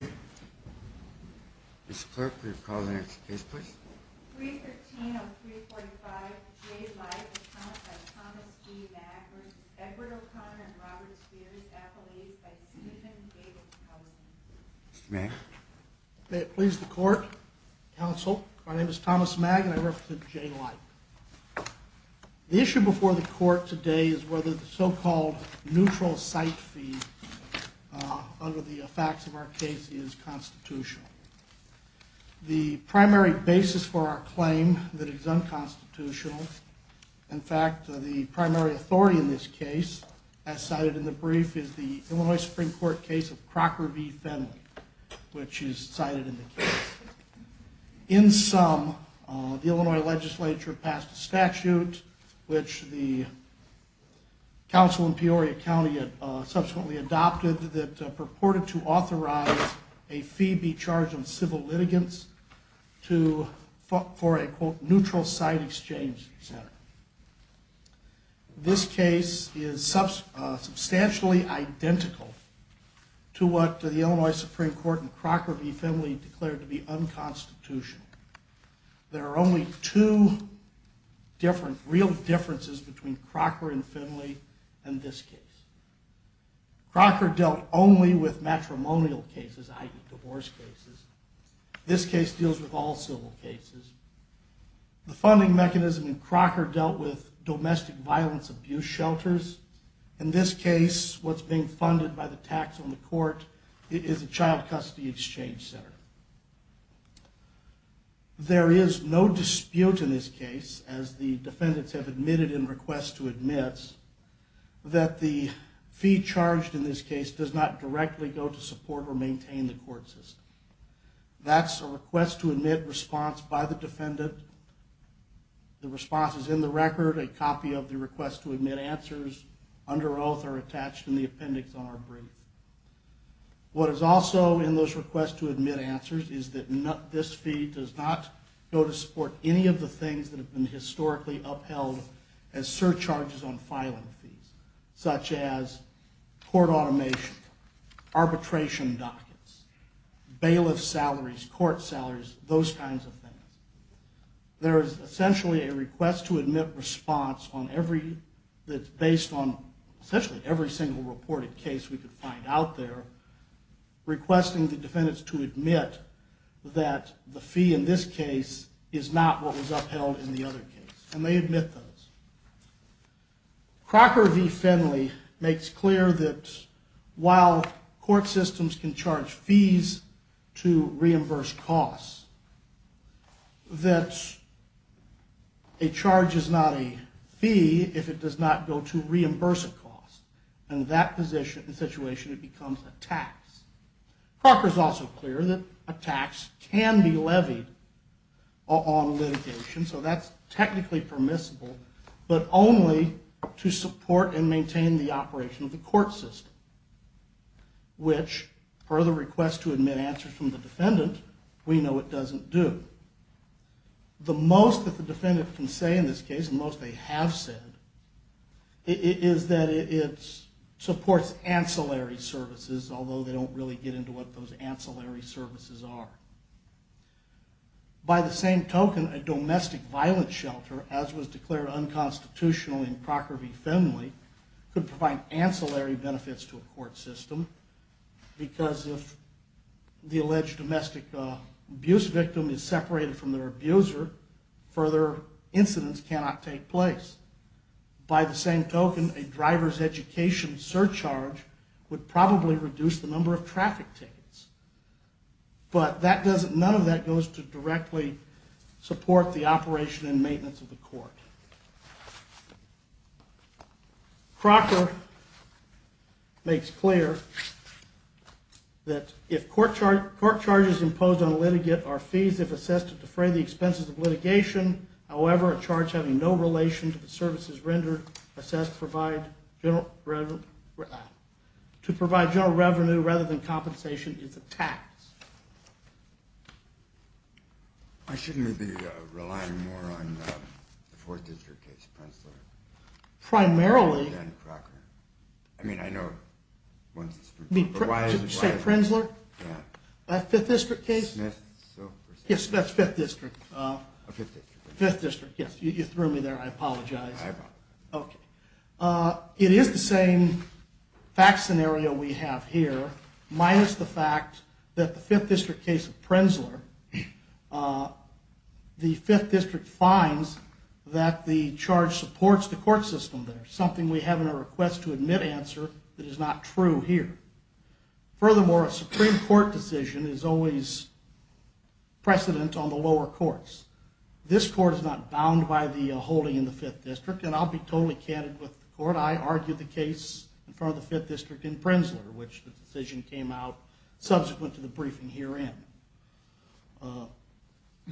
May it please the court, counsel, my name is Thomas Mag and I represent Jane Lipe. The issue before the court today is whether the so-called neutral site fee under the facts of our case is constitutional. The primary basis for our claim that it's unconstitutional in fact the primary authority in this case as cited in the brief is the Illinois Supreme Court case of Crocker v. Fennelly which is cited in the case. In sum the Illinois legislature passed a statute which the council in Peoria County had subsequently adopted that purported to authorize a fee be charged on civil litigants to for a quote neutral site exchange center. This case is substantially identical to what the Illinois Supreme Court and Crocker v. Fennelly declared to be unconstitutional. There are only two different real differences between Crocker and Fennelly in this case. Crocker dealt only with matrimonial cases, i.e. divorce cases. This case deals with all civil cases. The funding mechanism in Crocker dealt with domestic violence abuse shelters. In this case what's being funded by the tax on the court is a child custody exchange center. There is no dispute in this case as the defendants have admitted in requests to admit that the fee charged in this case does not directly go to support or maintain the court system. That's a request to admit response by the defendant. The response is in the record, a copy of the request to admit answers under oath are attached in the appendix on our brief. What is also in those requests to admit answers is that this fee does not go to support any of the things that have been historically upheld as surcharges on filing fees, such as court automation, arbitration dockets, bailiff salaries, court salaries, those kinds of things. There is essentially a request to admit response on every, that's based on essentially every single reported case we could find out there, requesting the defendants to admit that the fee in this case is not what was upheld in the other case, and they admit those. Crocker v. Finley makes clear that while court systems can charge fees to reimburse costs, that a charge is not a fee if it does not go to reimburse a cost, and in that situation it becomes a tax. Crocker is also clear that a tax can be levied on litigation, so that's technically permissible, but only to support and maintain the operation of the court system, which per the request to admit answers from the defendant, we know it doesn't do. The most that the defendant can say in this case, and most they have said, is that it supports ancillary services, although they don't really get into what those ancillary services are. By the same token, a domestic violence shelter, as was declared unconstitutional in Crocker v. Finley, could provide ancillary benefits to a court system, because if the alleged domestic abuse victim is separated from their abuser, further incidents cannot take place. By the same token, a driver's education surcharge would probably reduce the number of traffic tickets, but none of that goes to directly support the operation and maintenance of the court. Crocker makes clear that if court charges imposed on a litigant are fees if assessed to defray the expenses of litigation, however, a charge having no I shouldn't be relying more on the fourth district case of Prenzler. Primarily. I mean, I know one district. Did you say Prenzler? Yeah. That fifth district case? Yes, that's fifth district. Fifth district, yes. You threw me there, I apologize. Okay. It is the same fact scenario we have here, minus the fact that the fifth district finds that the charge supports the court system there, something we have in our request to admit answer that is not true here. Furthermore, a Supreme Court decision is always precedent on the lower courts. This court is not bound by the holding in the fifth district, and I'll be totally candid with the court. I argued the case in front of the fifth district in Prenzler, which the decision came out subsequent to the briefing herein.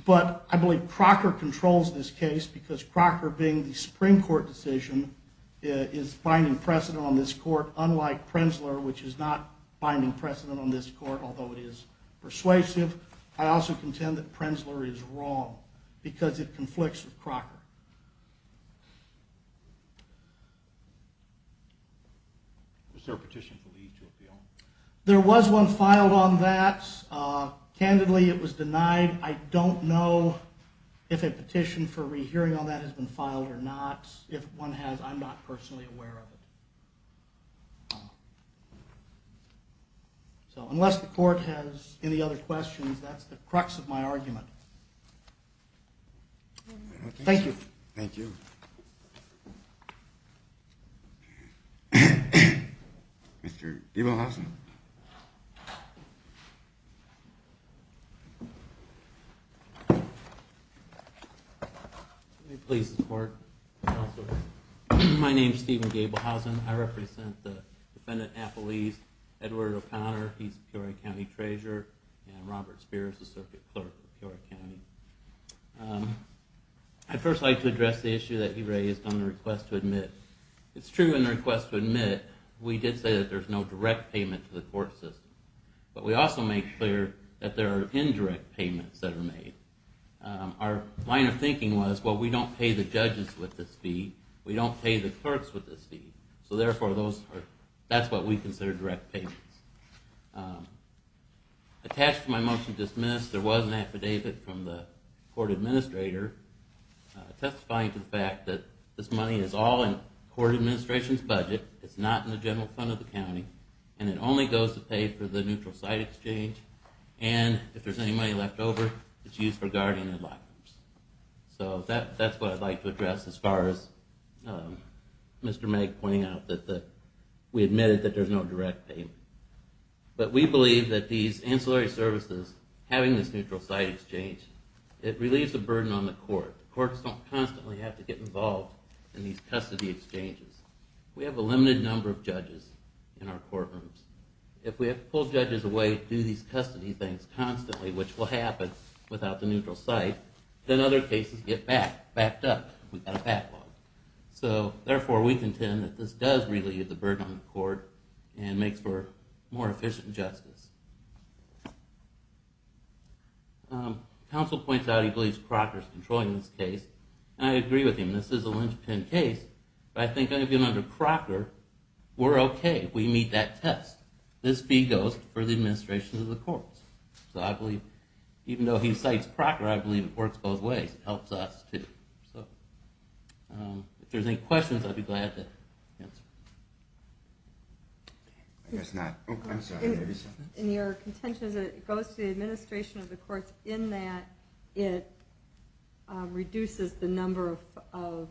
But I believe Crocker controls this case because Crocker being the Supreme Court decision is binding precedent on this court, unlike Prenzler, which is not binding precedent on this court, although it is persuasive. I also contend that Prenzler is wrong because it conflicts with Crocker. Was there a petition for leave to appeal? There was one filed on that. Candidly, it was denied. I don't know if a petition for rehearing on that has been filed or not. If one has, I'm not personally aware of it. So unless the court has any other questions, that's the crux of my argument. Thank you. Thank you. Mr. Gabelhausen. My name is Stephen Gabelhausen. I represent the defendant, Apple East, Edward O'Connor. He's a Peoria County treasurer, and Robert Spears, the circuit clerk of Peoria County. I'd first like to address the issue that he raised on the request to admit. It's true in the request to admit, we did say that there's no direct payment to the court system. But we also made clear that there are indirect payments that are made. Our line of thinking was, well, we don't pay the judges with this fee, we don't pay the clerks with this fee. So therefore, that's what we consider direct payments. Attached to my motion to dismiss, there was an affidavit from the court administrator, testifying to the fact that this money is all in the court administration's budget, it's not in the general fund of the county, and it only goes to pay for the neutral site exchange. And if there's any money left over, it's used for guarding and lockers. So that's what I'd like to address as far as Mr. Meg pointing out that we admitted that there's no direct payment. But we believe that these ancillary services, having this neutral site exchange, it relieves the burden on the court. Courts don't constantly have to get involved in these custody exchanges. We have a limited number of judges in our courtrooms. If we have to pull judges away to do these custody things constantly, which will happen without the neutral site, then other cases get backed up, we've got a backlog. So therefore, we contend that this does relieve the burden on the court, and makes for more efficient justice. Counsel points out he believes Crocker is controlling this case, and I agree with him. This is a lynchpin case, but I think under Crocker, we're okay, we meet that test. This fee goes for the administration of the courts. Even though he cites Crocker, I believe it works both ways. It helps us too. If there's any questions, I'd be glad to answer. In your contention that it goes to the administration of the courts in that it reduces the number of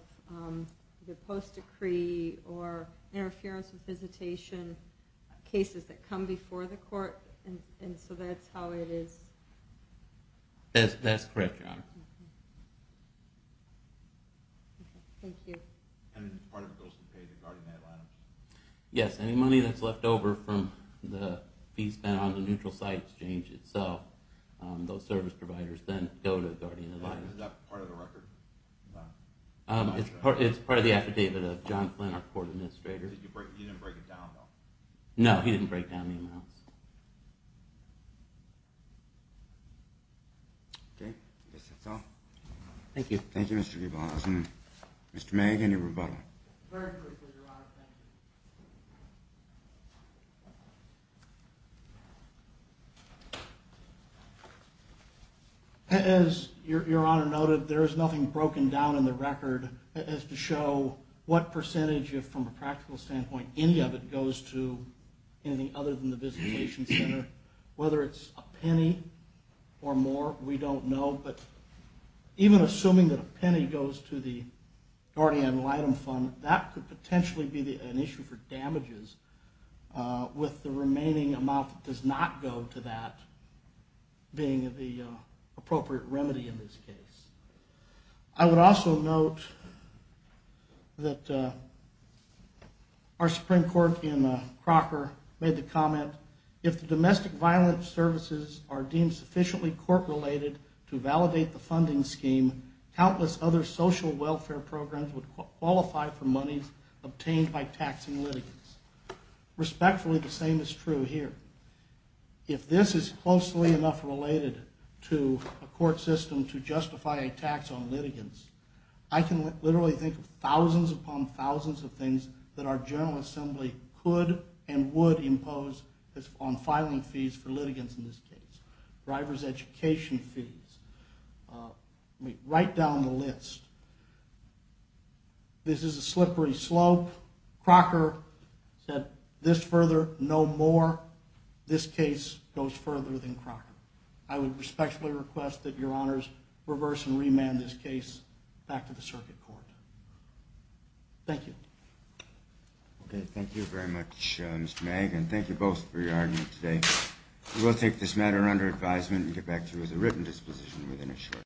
post-decree or interference with visitation cases that come before the court, and so that's how it is? That's correct, Your Honor. Yes, any money that's left over from the fees spent on the neutral site exchange itself, those service providers then go to Guardian Atlantis. It's part of the affidavit of John Flynn, our court administrator. No, he didn't break down the amounts. Okay, I guess that's all. Thank you. Thank you, Mr. Guevara. Mr. May, any rebuttal? Very quickly, Your Honor, thank you. As Your Honor noted, there is nothing broken down in the record as to show what percentage, from a practical standpoint, any of it goes to anything other than the visitation center. Whether it's a penny or more, we don't know. But even assuming that a penny goes to the Guardian item fund, that could potentially be an issue for damages with the remaining amount that does not go to that being the appropriate remedy in this case. I would also note that our Supreme Court in Crocker made the comment, if the domestic violence services are deemed sufficiently court-related to validate the funding scheme, countless other social welfare programs would qualify for monies obtained by taxing litigants. Respectfully, the same is true here. If this is closely enough related to a court system to justify a tax on litigants, I can literally think of thousands upon thousands of things that our General Assembly could and would impose on filing fees for litigants in this case. Driver's education fees. Right down the list. This is a slippery slope. Crocker said this further, no more. This case goes further than Crocker. I would respectfully request that your honors reverse and remand this case back to the circuit court. Thank you. Thank you very much, Mr. Magg. And thank you both for your argument today. We will take this matter under advisement and get back to you as a written disposition within a short time.